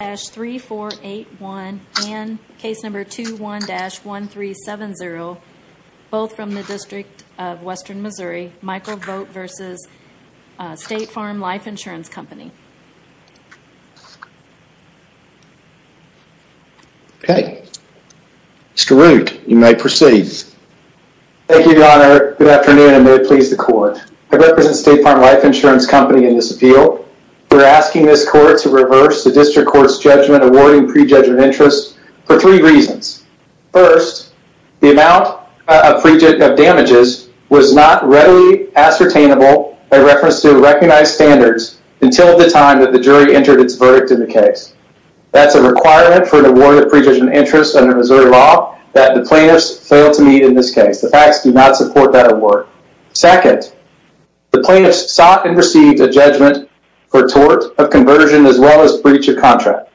and Case No. 21-1370, both from the District of Western Missouri. Michael Vogt v. State Farm Life Insurance Company. Mr. Root, you may proceed. Thank you, Your Honor. Good afternoon and may it please the Court. I represent State Farm Life Insurance Company in this appeal. We're asking this Court to reverse the District Court's judgment awarding pre-judgment interest for three reasons. First, the amount of damages was not readily ascertainable by reference to recognized standards until the time that the jury entered its verdict in the case. That's a requirement for an award of pre-judgment interest under Missouri law that the plaintiffs fail to meet in this case. The facts do not support that award. Second, the plaintiffs sought and received a judgment for tort of conversion as well as breach of contract.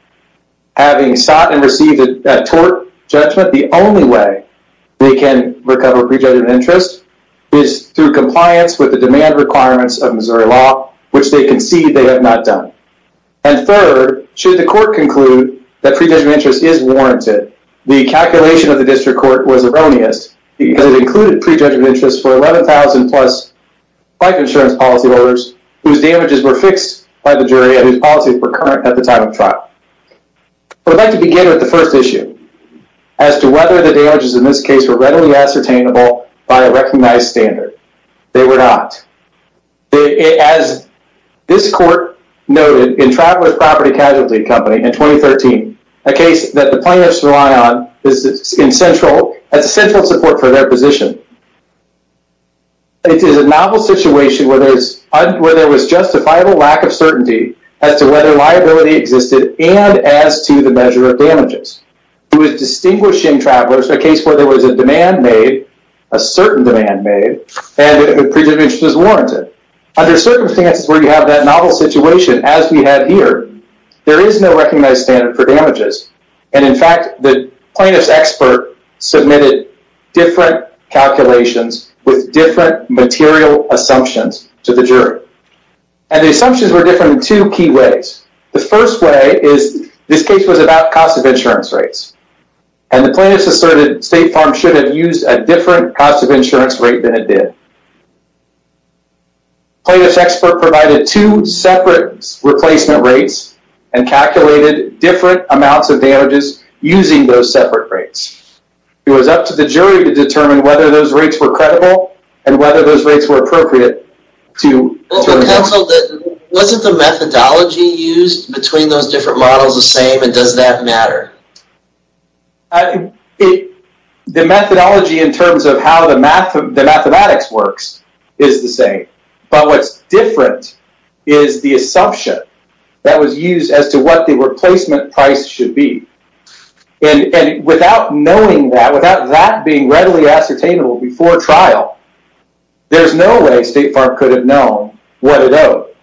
Having sought and received that tort judgment, the only way they can recover pre-judgment interest is through compliance with the demand requirements of Missouri law, which they concede they have not done. And third, should the Court conclude that pre-judgment interest is warranted, the calculation of the District Court was erroneous because it included pre-judgment interest for 11,000 plus life insurance policyholders whose damages were fixed by the jury and whose policies were current at the time of trial. I would like to begin with the first issue as to whether the damages in this case were readily ascertainable by a recognized standard. They were not. As this Court noted in Travelers Property Casualty Company in 2013, a case that the plaintiffs rely on as central support for their position. It is a novel situation where there was justifiable lack of certainty as to whether liability existed and as to the measure of damages. It was distinguishing travelers, a case where there was a demand made, a certain demand made, and a pre-judgment interest was warranted. Under circumstances where you have that novel situation as we have here, there is no recognized standard for damages. And in fact, the plaintiff's expert submitted different calculations with different material assumptions to the jury. And the assumptions were different in two key ways. The first way is this case was about cost of insurance rates and the plaintiffs asserted State Farm should have used a different cost of insurance rate than it did. Plaintiff's expert provided two separate replacement rates and calculated different amounts of damages using those separate rates. It was up to the jury to determine whether those rates were credible and whether those rates were appropriate. Wasn't the methodology used between those different models the same and does that matter? The methodology in terms of how the mathematics works is the same. But what's different is the assumption that was used as to what the replacement price should be. And without knowing that, without that being readily ascertainable before trial, there's no way State Farm could have known what it owed.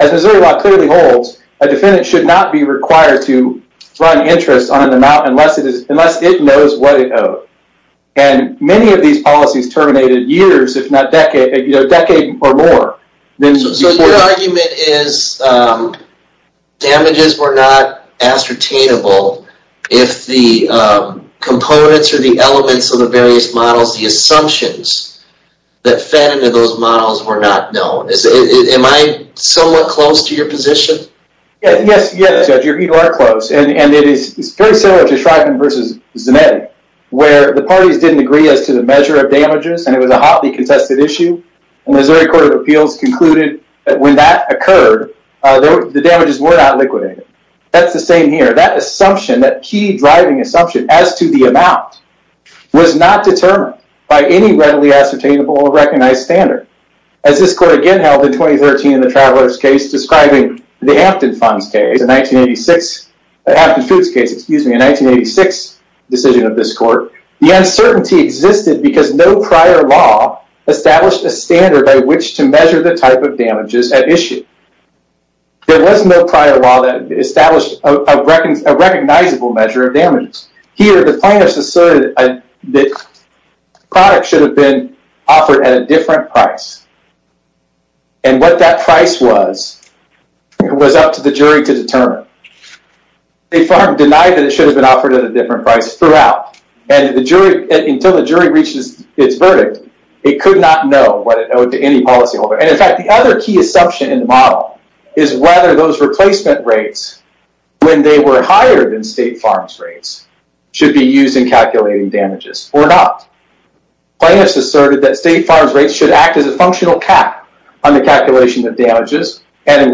As Missouri law clearly holds, a defendant should not be required to run interest on an amount unless it knows what it owed. And many of these policies terminated years if not decades or more. So your argument is damages were not ascertainable if the components or the elements of the various models, the assumptions that fed into those models were not known. Am I somewhat close to your The parties didn't agree as to the measure of damages and it was a hotly contested issue. And Missouri Court of Appeals concluded that when that occurred, the damages were not liquidated. That's the same here. That assumption, that key driving assumption as to the amount was not determined by any readily ascertainable or recognized standard. As this court again held in 2013 in the Travelers case describing the Hampton Foods case, excuse me, a 1986 decision of this court, the uncertainty existed because no prior law established a standard by which to measure the type of damages at issue. There was no prior law that established a recognizable measure of damages. Here, the plaintiffs asserted that the product should have been offered at a different price. And what that price was, it was up to the jury to determine. State Farm denied that it should have been offered at a different price throughout. And until the jury reaches its verdict, it could not know what it owed to any policyholder. And in fact, the other key assumption in the model is whether those replacement rates, when they were higher than State Farm's rates, should be used in calculating damages or not. Plaintiffs asserted that State Farm's rates should act as a functional cap on the calculation of damages. State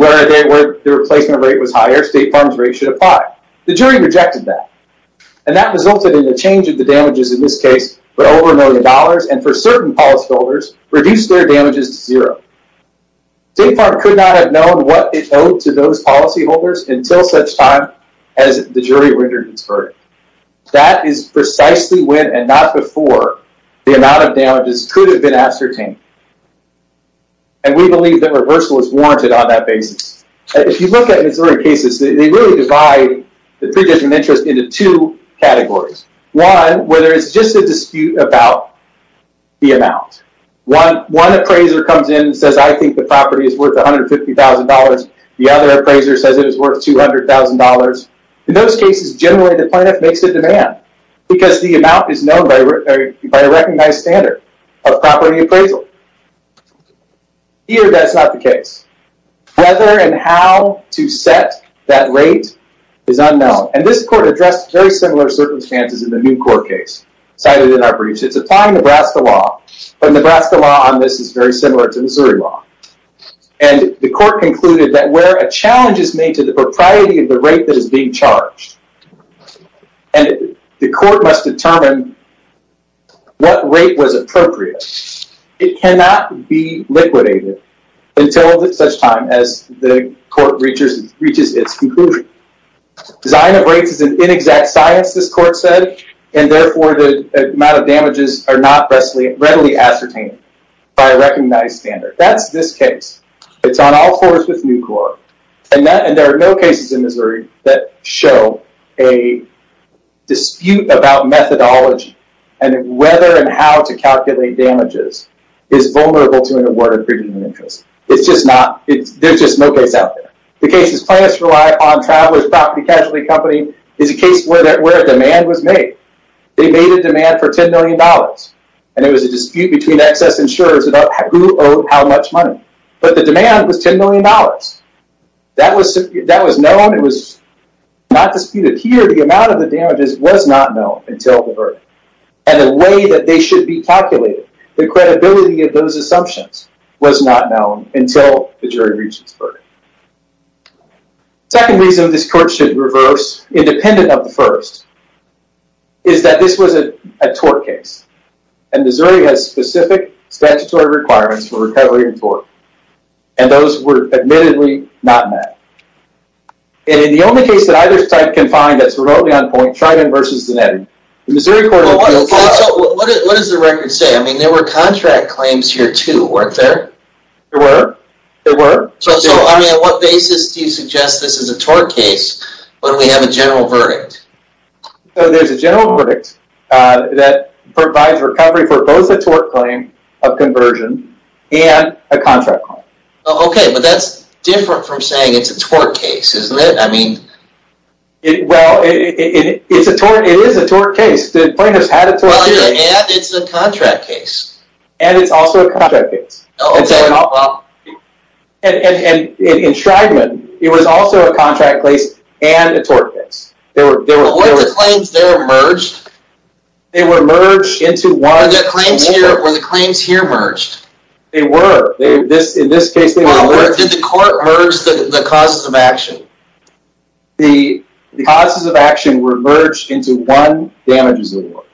Farm could not have known what it owed to those policyholders until such time as the jury rendered its verdict. That is precisely when, and not before, the amount of damages could have been ascertained. And we believe that reversal is warranted on that basis. If you look at Missouri cases, they really divide the predetermined interest into two categories. One, where there is just a dispute about the amount. One appraiser comes in and says, I think the property is worth $150,000. The other appraiser says it is worth $200,000. In those cases, generally the plaintiff makes a demand because the amount is known by a recognized standard of property appraisal. Here, that's not the case. Whether and how to set that rate is unknown. And this court addressed very similar circumstances in the new court case cited in our briefs. It's applying Nebraska law, but Nebraska law on this is very similar to Missouri law. And the court concluded that where a challenge is made to the propriety of the rate that is being appraised, it cannot be liquidated until such time as the court reaches its conclusion. Design of rates is an inexact science, this court said, and therefore the amount of damages are not readily ascertained by a recognized standard. That's this case. It's on all fours with new court. And there are no cases in Missouri that show a dispute about methodology and whether and how to calculate damages is vulnerable to an award of premium interest. It's just not. There's just no case out there. The case is plaintiffs rely on Travelers Property Casualty Company is a case where a demand was made. They made a demand for $10 million and it was a dispute between excess insurers about who owed how much money. But the demand was $10 million. That was known. It was not disputed here. The amount of the damages was not known until the verdict. And the way they should be calculated, the credibility of those assumptions was not known until the jury reached its verdict. Second reason this court should reverse, independent of the first, is that this was a tort case. And Missouri has specific statutory requirements for recovery in tort. And those were admittedly not met. And in the only case that either side can find that's what is the record say? I mean there were contract claims here too weren't there? There were. There were. So I mean on what basis do you suggest this is a tort case when we have a general verdict? So there's a general verdict that provides recovery for both a tort claim of conversion and a contract claim. Okay but that's different from saying it's a tort case isn't it? I mean it well it's a tort it is a tort case. The plaintiff's had a contract case. And it's also a contract case. And in Shrydman it was also a contract case and a tort case. Were the claims there merged? They were merged into one. Were the claims here merged? They were. In this case they were. Did the court merge the causes of action? The causes of action were merged into one damages of the war.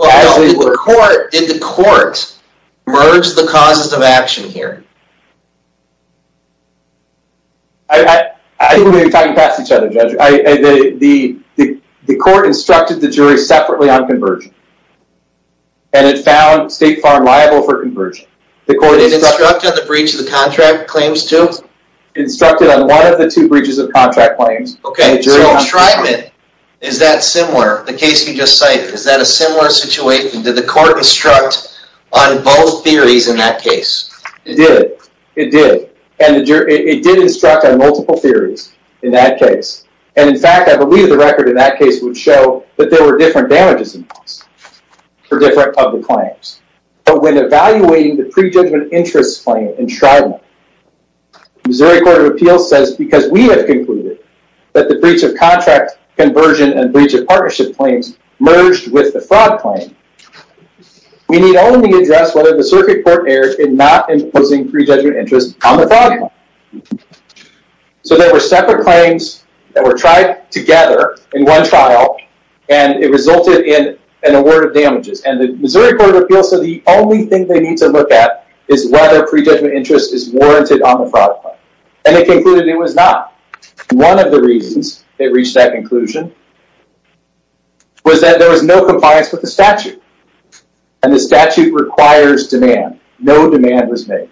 Did the court merge the causes of action here? I think we're talking past each other Judge. The court instructed the jury separately on conversion and it found State Farm liable for conversion. The court instructed on the breach of the contract claims too? Instructed on one of the two breaches of contract claims. Okay so in Shrydman is that similar the case you just cited? Is that a similar situation? Did the court instruct on both theories in that case? It did. It did. And it did instruct on multiple theories in that case. And in fact I believe the record in that case would show that there were different damages involved for different public claims. But when evaluating the pre-judgment interest claim in Shrydman, the Missouri Court of Appeals says because we have concluded that the breach of contract conversion and breach of partnership claims merged with the fraud claim, we need only address whether the circuit court erred in not imposing pre-judgment interest on the fraud claim. So there were separate claims that were tried together in one trial and it resulted in an award of damages. And the Missouri Court of Appeals said the only thing they need to look at is whether pre-judgment interest is warranted on the fraud claim. And they concluded it was not. One of the reasons they reached that conclusion was that there was no compliance with the statute. And the statute requires demand. No demand was made.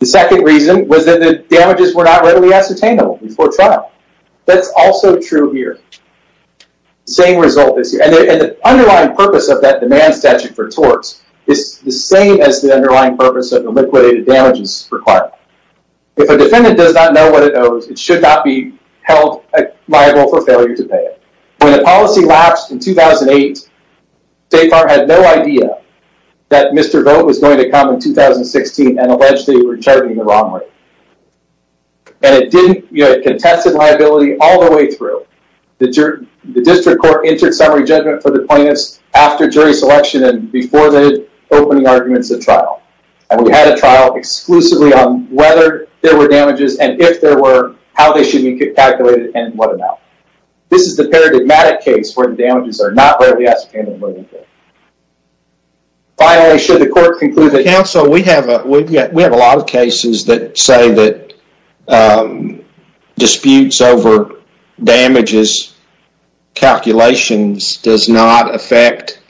The second reason was that the damages were not readily ascertainable before trial. That's also true here. Same result is here. And the underlying purpose of that demand statute for torts is the same as the underlying purpose of the liquidated damages requirement. If a defendant does not know what it owes, it should not be held liable for failure to pay it. When the policy lapsed in 2008, State Farm had no idea that Mr. Vote was going to come in 2016 and allegedly returning the wrong rate. And it contested liability all the way through. The district court entered summary judgment for the plaintiffs after jury selection and before the opening arguments at trial. And we had a trial exclusively on whether there were damages and if there were, how they should be calculated, and what amount. This is the paradigmatic case where the damages are not readily ascertainable. Finally, should the court conclude that... does not affect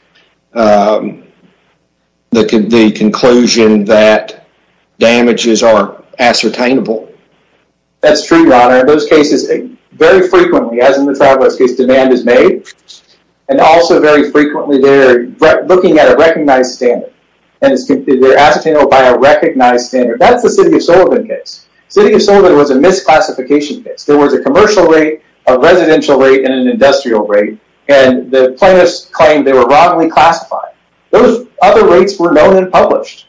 the conclusion that damages are ascertainable? That's true, Your Honor. In those cases, very frequently, as in the trial case, demand is made. And also very frequently, they're looking at a recognized standard. And they're ascertainable by a recognized standard. That's the City of Sullivan case. City of Sullivan was a misclassification case. There was a commercial rate, a residential rate, and an industrial rate. And the plaintiffs claimed they were wrongly classified. Those other rates were known and published.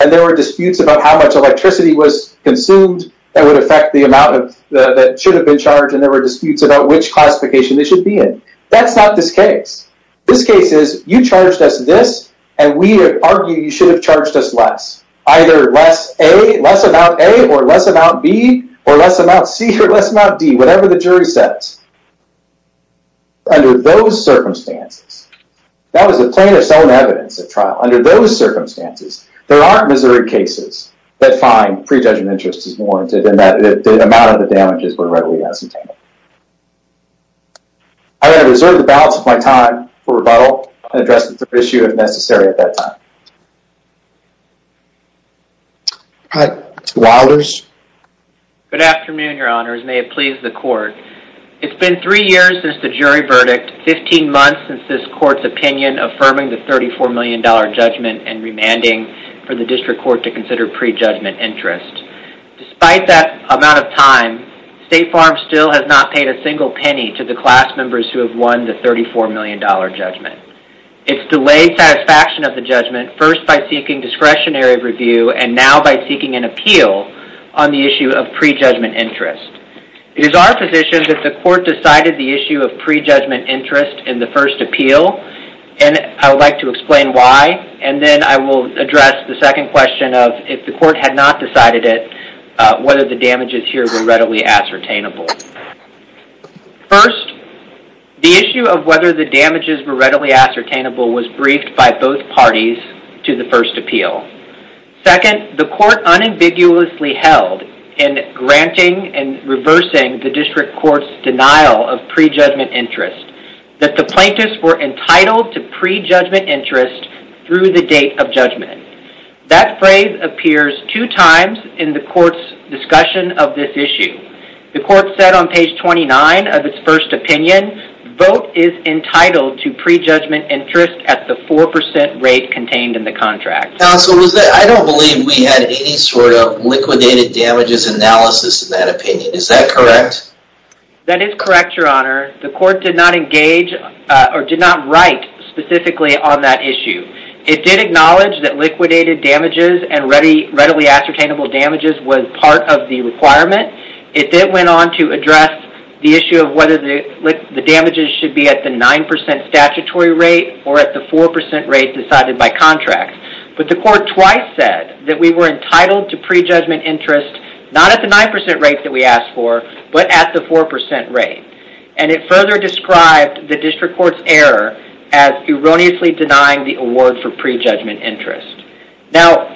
And there were disputes about how much electricity was consumed that would affect the amount that should have been charged. And there were disputes about which classification they should be in. That's not this case. This case is, you charged us this, and we argue you should have charged us less. Either less A, less amount A, or less amount B, or less amount C, or less amount D, whatever the jury says. Under those circumstances, that was the plaintiff's own evidence at trial. Under those circumstances, there aren't Missouri cases that find prejudgment interest is warranted and that the amount of the damages were readily ascertainable. I reserve the balance of my time for rebuttal and address the issue if necessary at that time. All right, Mr. Wilders. Good afternoon, your honors. May it please the court. It's been three years since the jury verdict, 15 months since this court's opinion affirming the $34 million judgment and remanding for the district court to consider prejudgment interest. Despite that amount of time, State Farm still has not paid a single penny to the class members who have won the $34 million judgment. It's delayed satisfaction of the judgment first by seeking discretionary review and now by seeking an appeal on the issue of prejudgment interest. It is our position that the court decided the issue of prejudgment interest in the first appeal, and I would like to explain why, and then I will address the second question of if the court had not decided it, whether the damages were readily ascertainable was briefed by both parties to the first appeal. Second, the court unambiguously held in granting and reversing the district court's denial of prejudgment interest that the plaintiffs were entitled to prejudgment interest through the date of judgment. That phrase appears two times in the court's discussion of this issue. The court said on page 29 of its first opinion, vote is entitled to prejudgment interest at the 4% rate contained in the contract. Counsel, I don't believe we had any sort of liquidated damages analysis in that opinion. Is that correct? That is correct, your honor. The court did not engage or did not write specifically on that issue. It did acknowledge that liquidated damages and readily ascertainable damages was part of the damages should be at the 9% statutory rate or at the 4% rate decided by contract, but the court twice said that we were entitled to prejudgment interest not at the 9% rate that we asked for, but at the 4% rate, and it further described the district court's error as erroneously denying the award for prejudgment interest. Now,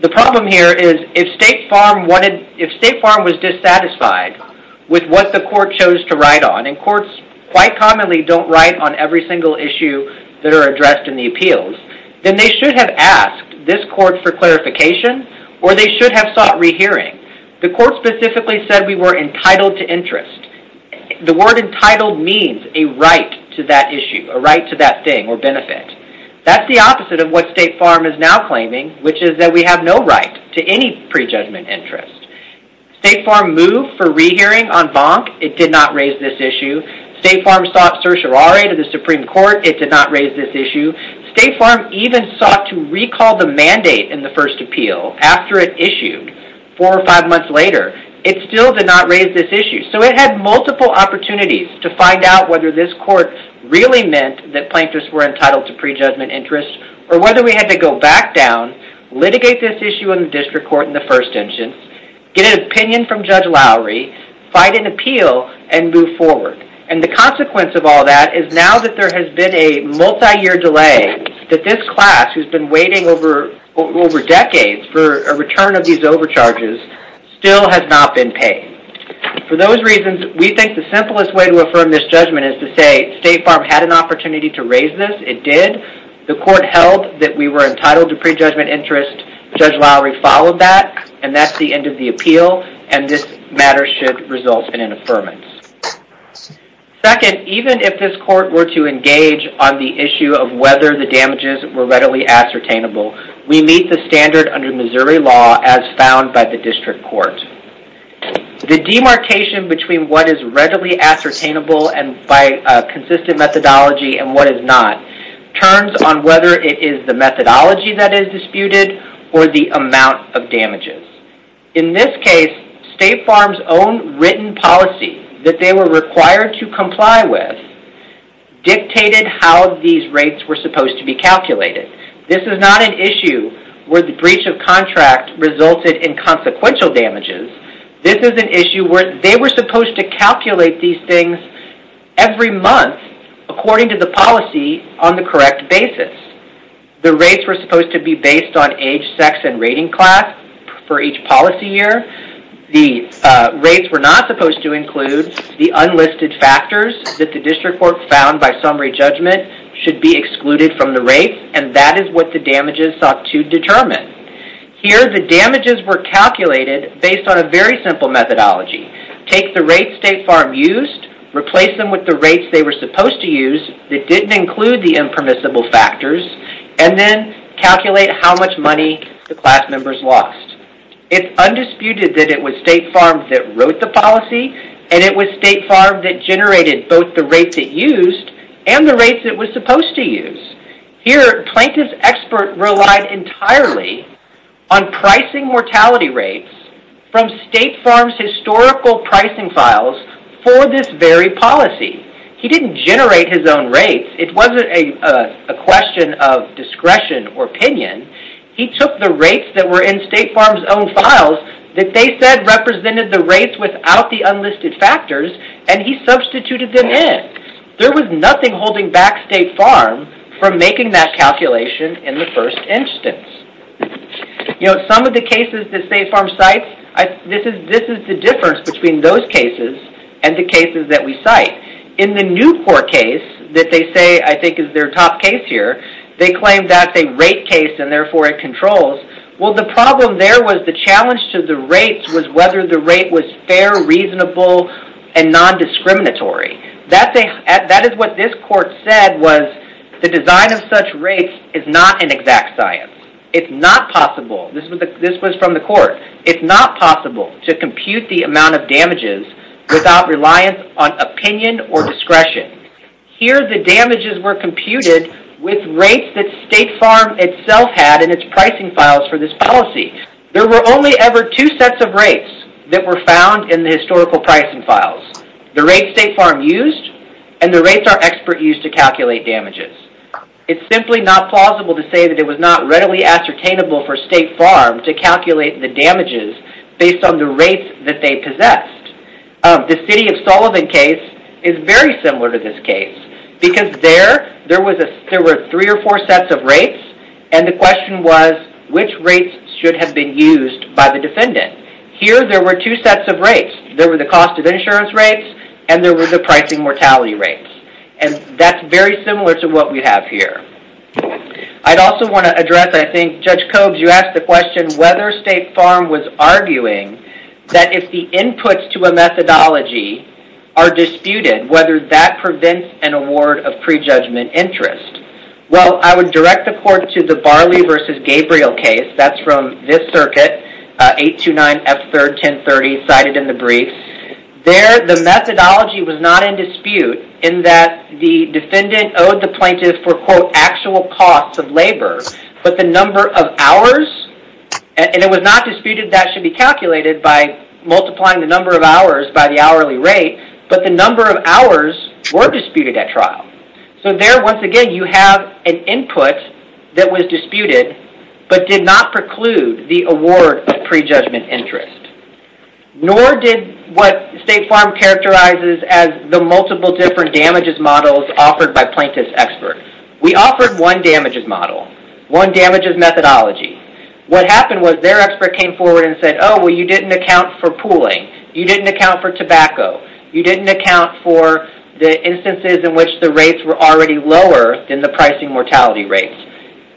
the problem here is if State Farm was dissatisfied with what the court chose to write on, and courts quite commonly don't write on every single issue that are addressed in the appeals, then they should have asked this court for clarification or they should have sought rehearing. The court specifically said we were entitled to interest. The word entitled means a right to that issue, a right to that thing or benefit. That's the opposite of what State Farm is now claiming, which is that we have no right to any prejudgment interest. State Farm moved for rehearing on Bonk. It did not raise this issue. State Farm sought certiorari to the Supreme Court. It did not raise this issue. State Farm even sought to recall the mandate in the first appeal after it issued four or five months later. It still did not raise this issue. So it had multiple opportunities to find out whether this court really meant that plaintiffs were entitled to prejudgment interest or whether we had to go back down, litigate this issue in the district court in the first instance, get an opinion from Judge Lowry, fight an appeal, and move forward. And the consequence of all that is now that there has been a multi-year delay that this class who's been waiting over decades for a return of these overcharges still has not been paid. For those reasons, we think the simplest way to affirm this judgment is to say State Farm had an opportunity to raise this. It did. The court held that we were entitled to prejudgment interest. Judge Lowry followed that and that's the end of the appeal and this matter should result in an affirmance. Second, even if this court were to engage on the issue of whether the damages were readily ascertainable, we meet the standard under Missouri law as found by the district court. The demarcation between what is the methodology that is disputed or the amount of damages. In this case, State Farm's own written policy that they were required to comply with dictated how these rates were supposed to be calculated. This is not an issue where the breach of contract resulted in consequential damages. This is an issue where they were supposed to calculate these things every month according to the policy on the correct basis. The rates were supposed to be based on age, sex, and rating class for each policy year. The rates were not supposed to include the unlisted factors that the district court found by summary judgment should be excluded from the rate and that is what the damages sought to determine. Here, the damages were calculated based on a very simple methodology. Take the rates State Farm used, replace them with the rates they were supposed to use that didn't include the impermissible factors, and then calculate how much money the class members lost. It's undisputed that it was State Farm that wrote the policy and it was State Farm that generated both the rates it used and the rates it was supposed to use. Here, Plaintiff's expert relied entirely on pricing mortality rates from State Farm's historical pricing files for this very policy. He didn't generate his own rates. It wasn't a question of discretion or opinion. He took the rates that were in State Farm's own files that they said represented the rates without the unlisted factors and he substituted them in. There was nothing holding back State Farm from making that calculation in the first instance. Some of the cases that State Farm cites, this is the difference between those cases and the cases that we cite. In the new court case that they say I think is their top case here, they claim that's a rate case and therefore it controls. Well, the problem there was the challenge to the rates was whether the rate was fair, reasonable, and non-discriminatory. That is what this court said was the design of such rates is not an exact science. It's not possible, this was from the court, it's not possible to compute the amount of damages without reliance on opinion or discretion. Here, the damages were computed with rates that State Farm itself had in its pricing files for this policy. There were only ever two sets of rates that were found in the historical pricing files. The rates State Farm used and the it's not plausible to say that it was not readily ascertainable for State Farm to calculate the damages based on the rates that they possessed. The City of Sullivan case is very similar to this case because there were three or four sets of rates and the question was which rates should have been used by the defendant. Here, there were two sets of rates. There were the cost of insurance rates and there were the cost of damages. That's very similar to what we have here. I'd also want to address, I think, Judge Cobes, you asked the question whether State Farm was arguing that if the inputs to a methodology are disputed, whether that prevents an award of prejudgment interest. Well, I would direct the court to the Barley v. Gabriel case. That's from this circuit, 829F3-1030 cited in the brief. There, the defendant owed the plaintiff for, quote, actual costs of labor, but the number of hours, and it was not disputed that should be calculated by multiplying the number of hours by the hourly rate, but the number of hours were disputed at trial. There, once again, you have an input that was disputed but did not preclude the award of prejudgment interest. Nor did what State Farm characterizes as the multiple different damages models offered by plaintiff's expert. We offered one damages model, one damages methodology. What happened was their expert came forward and said, oh, well, you didn't account for pooling. You didn't account for tobacco. You didn't account for the instances in which the rates were already lower than the pricing mortality rates.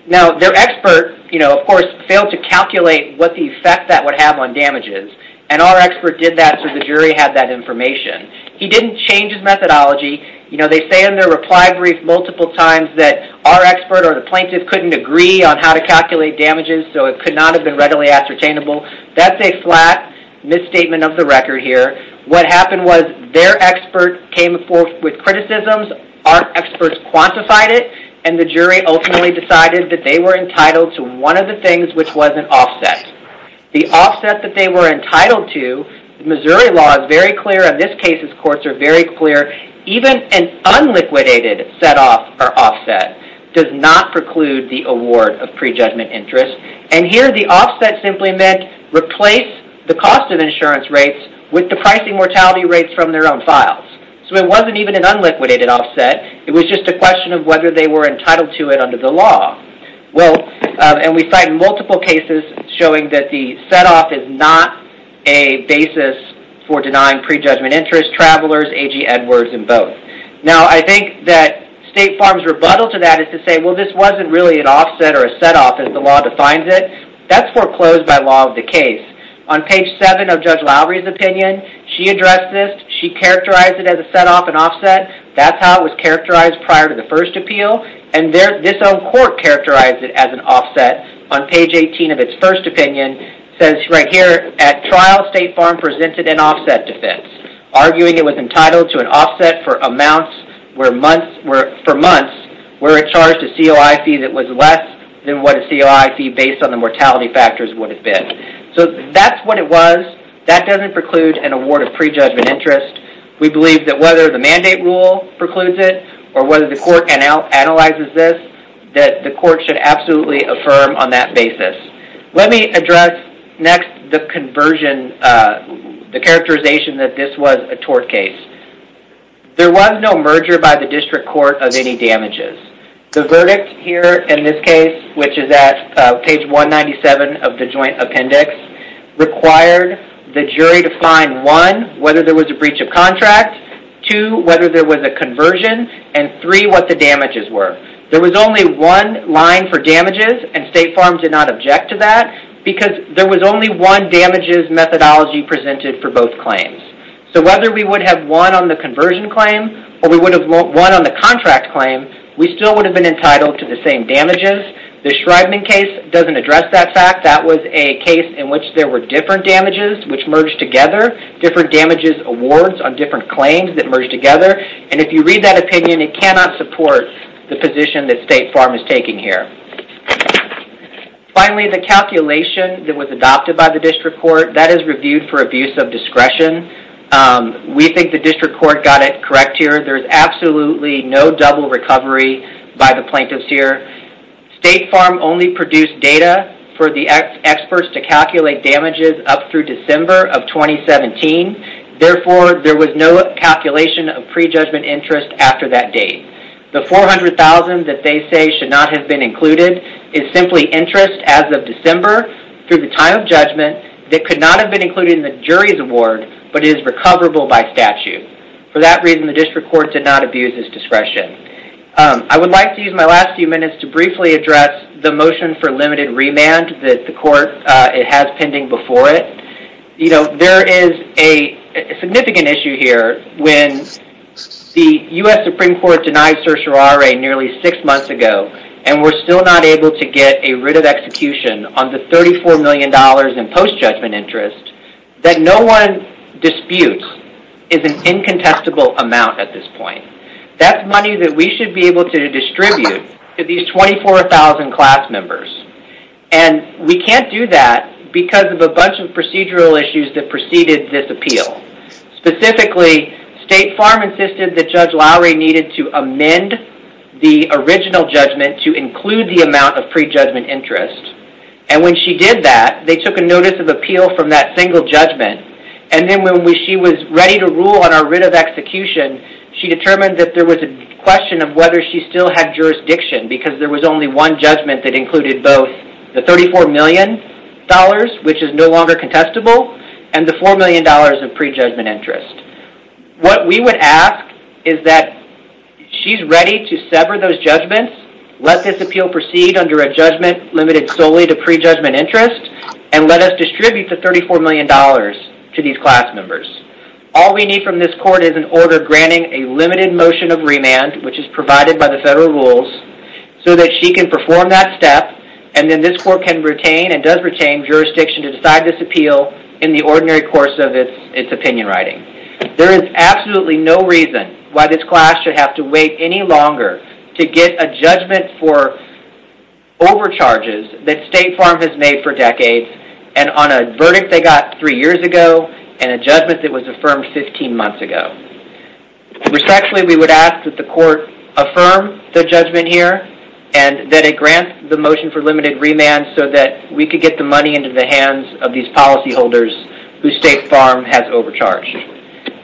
Now, their expert, of course, failed to calculate what the effect that would have on damages, and our expert did that so the jury had that information. He didn't change his methodology. You know, they say in their reply brief multiple times that our expert or the plaintiff couldn't agree on how to calculate damages, so it could not have been readily ascertainable. That's a flat misstatement of the record here. What happened was their expert came forth with criticisms. Our experts quantified it, and the jury ultimately decided that they were entitled to one of the things, which was an offset. The offset that they were entitled to, Missouri law is very clear, and this case's courts are very clear. Even an unliquidated set-off or offset does not preclude the award of prejudgment interest, and here the offset simply meant replace the cost of insurance rates with the pricing mortality rates from their own files, so it wasn't even an unliquidated offset. It was just a question of whether they were entitled to it under the law, and we cite multiple cases showing that the set-off is not a basis for denying prejudgment interest, travelers, A.G. Edwards, and both. Now, I think that State Farm's rebuttal to that is to say, well, this wasn't really an offset or a set-off as the law defines it. That's foreclosed by law of the case. On page seven of Judge Lowry's opinion, she addressed this. She characterized it as a set-off and offset. That's how it was characterized prior to the first appeal, and this own court characterized it as an offset. On page 18 of its first opinion, it says right here, at trial, State Farm presented an offset defense, arguing it was entitled to an offset for months where it charged a COI fee that was less than what a COI fee based on the mortality factors would have been. So that's what it was. That doesn't preclude an award of prejudgment interest. We believe that whether the mandate rule precludes it or whether the court analyzes this, that the court should absolutely affirm on that basis. Let me address next the conversion, the characterization that this was a tort case. There was no merger by the district court of any damages. The verdict here in this case, which is at page 197 of the joint appendix, required the jury to find one, whether there was a breach of contract, two, whether there was a conversion, and three, what the damages were. There was only one line for damages and State Farm did not object to that because there was only one damages methodology presented for both claims. So whether we would have won on the conversion claim or we would have won on the contract claim, we still would have been entitled to the same damages. The Schreibman case doesn't address that fact. That was a case in which there were different damages which merged together, different damages awards on different claims that merged together. And if you read that opinion, it cannot support the position that State Farm is taking here. Finally, the calculation that was adopted by the district court, that is reviewed for abuse of discretion. We think the district court got it correct here. There's absolutely no double recovery by the plaintiffs here. State Farm only produced data for the experts to calculate damages up through December of 2017. Therefore, there was no calculation of pre-judgment interest after that date. The 400,000 that they say should not have been included is simply interest as of December through the time of judgment that could not have been included in the jury's award, but is recoverable by statute. For that reason, the district court did not abuse its discretion. I would like to use my last few minutes to briefly address the motion for limited remand that the court has pending before it. There is a significant issue here when the US Supreme Court denied certiorari nearly six months ago, and we're still not able to get a writ of execution on the $34 million in post-judgment interest that no one disputes is an incontestable amount at this point. That's money that we should be able to distribute to these 24,000 class members. We can't do that because of a bunch of procedural issues that preceded this appeal. Specifically, State Farm insisted that Judge Lowery needed to amend the original judgment to include the amount of pre-judgment interest. When she did that, they took a notice of appeal from that single judgment. Then when she was ready to rule on our writ of execution, she determined that there was a question of whether she still had jurisdiction because there was only one judgment that included both the $34 million, which is no longer contestable, and the $4 million of pre-judgment interest. What we would ask is that she's ready to sever those judgments, let this appeal proceed under a judgment limited solely to pre-judgment interest, and let us distribute the $34 million to these class members. All we need from this court is order granting a limited motion of remand, which is provided by the federal rules, so that she can perform that step. Then this court can retain and does retain jurisdiction to decide this appeal in the ordinary course of its opinion writing. There is absolutely no reason why this class should have to wait any longer to get a judgment for overcharges that State Farm has made for decades, and on a verdict they got three years ago, and a judgment that was sexually. We would ask that the court affirm the judgment here, and that it grant the motion for limited remand so that we could get the money into the hands of these policyholders whose State Farm has overcharged.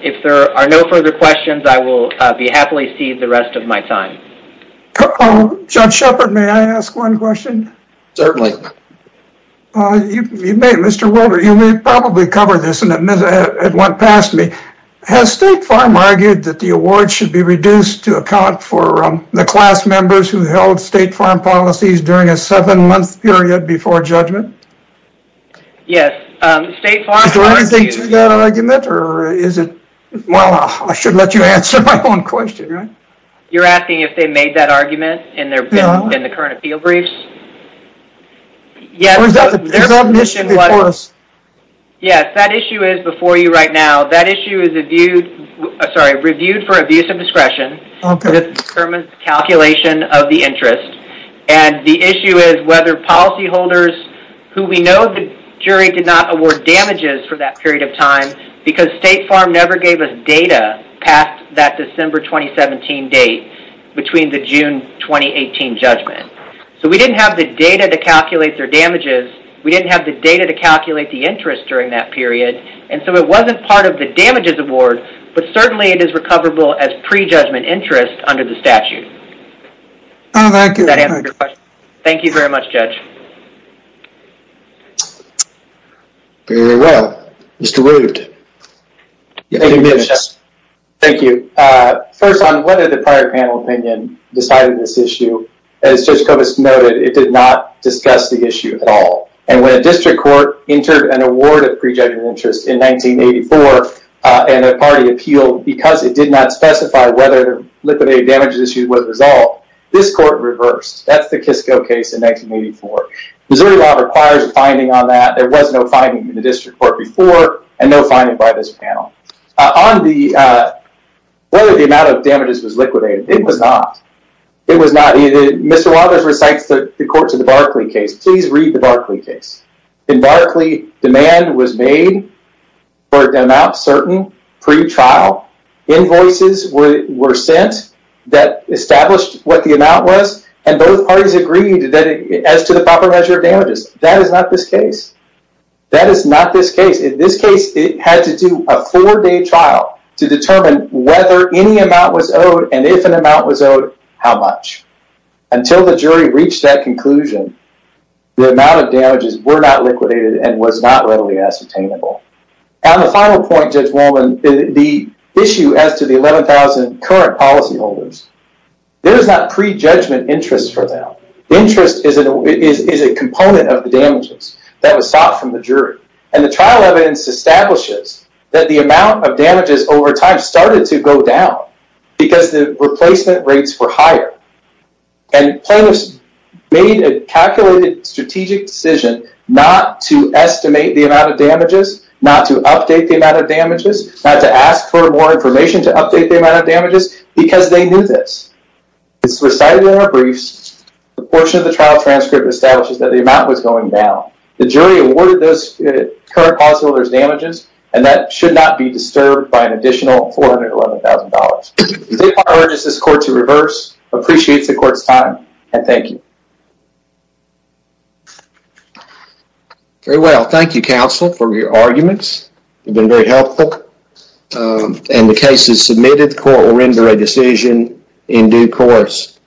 If there are no further questions, I will be happily seed the rest of my time. Judge Shepard, may I ask one question? Certainly. You may, Mr. Wilber. You may probably cover this and admit it went past me. Has State Farm argued that the award should be reduced to account for the class members who held State Farm policies during a seven-month period before judgment? Yes, State Farm... Is there anything to that argument, or is it... Well, I should let you answer my own question. You're asking if they made that argument in the current appeal briefs? Yes, that issue is before you right now. That issue is reviewed for abuse of discretion. It determines the calculation of the interest, and the issue is whether policyholders who we know the jury did not award damages for that period of time because State Farm never gave us data past that December 2017 date between the June 2018 judgment. So we didn't have the data to calculate their damages. We didn't have the data to calculate the interest during that period, and so it wasn't part of the damages award, but certainly it is recoverable as pre-judgment interest under the statute. Oh, thank you. Does that answer your question? Thank you very much, Judge. Very well. Mr. Wood, you have a few minutes. Thank you. First, on whether the prior panel decided this issue, as Judge Kovas noted, it did not discuss the issue at all. And when a district court entered an award of pre-judgment interest in 1984, and the party appealed because it did not specify whether the liquidated damages issue was resolved, this court reversed. That's the Kisco case in 1984. Missouri law requires a finding on that. There was no finding in the district court before, and no finding by this panel. On whether the amount of damages was not. It was not. Mr. Waters recites the court to the Barkley case. Please read the Barkley case. In Barkley, demand was made for an amount certain pre-trial. Invoices were sent that established what the amount was, and both parties agreed that as to the proper measure of damages. That is not this case. That is not this case. In this case, it had to do a four-day trial to determine whether any amount was owed, and if an amount was owed, how much. Until the jury reached that conclusion, the amount of damages were not liquidated and was not readily ascertainable. On the final point, Judge Woolman, the issue as to the 11,000 current policyholders, there is not pre-judgment interest for them. Interest is a component of the damages that was sought from the jury. And the trial evidence establishes that the amount of damages over time started to go down because the replacement rates were higher. And plaintiffs made a calculated strategic decision not to estimate the amount of damages, not to update the amount of damages, not to ask for more information to update the amount of damages, because they knew this. As recited in our briefs, the portion of the trial transcript establishes that the amount was going down. The jury awarded those current policyholders damages, and that should not be $411,000. I urge this court to reverse, appreciate the court's time, and thank you. Very well. Thank you, counsel, for your arguments. You've been very helpful. And the case is submitted. The court will render a decision in due course.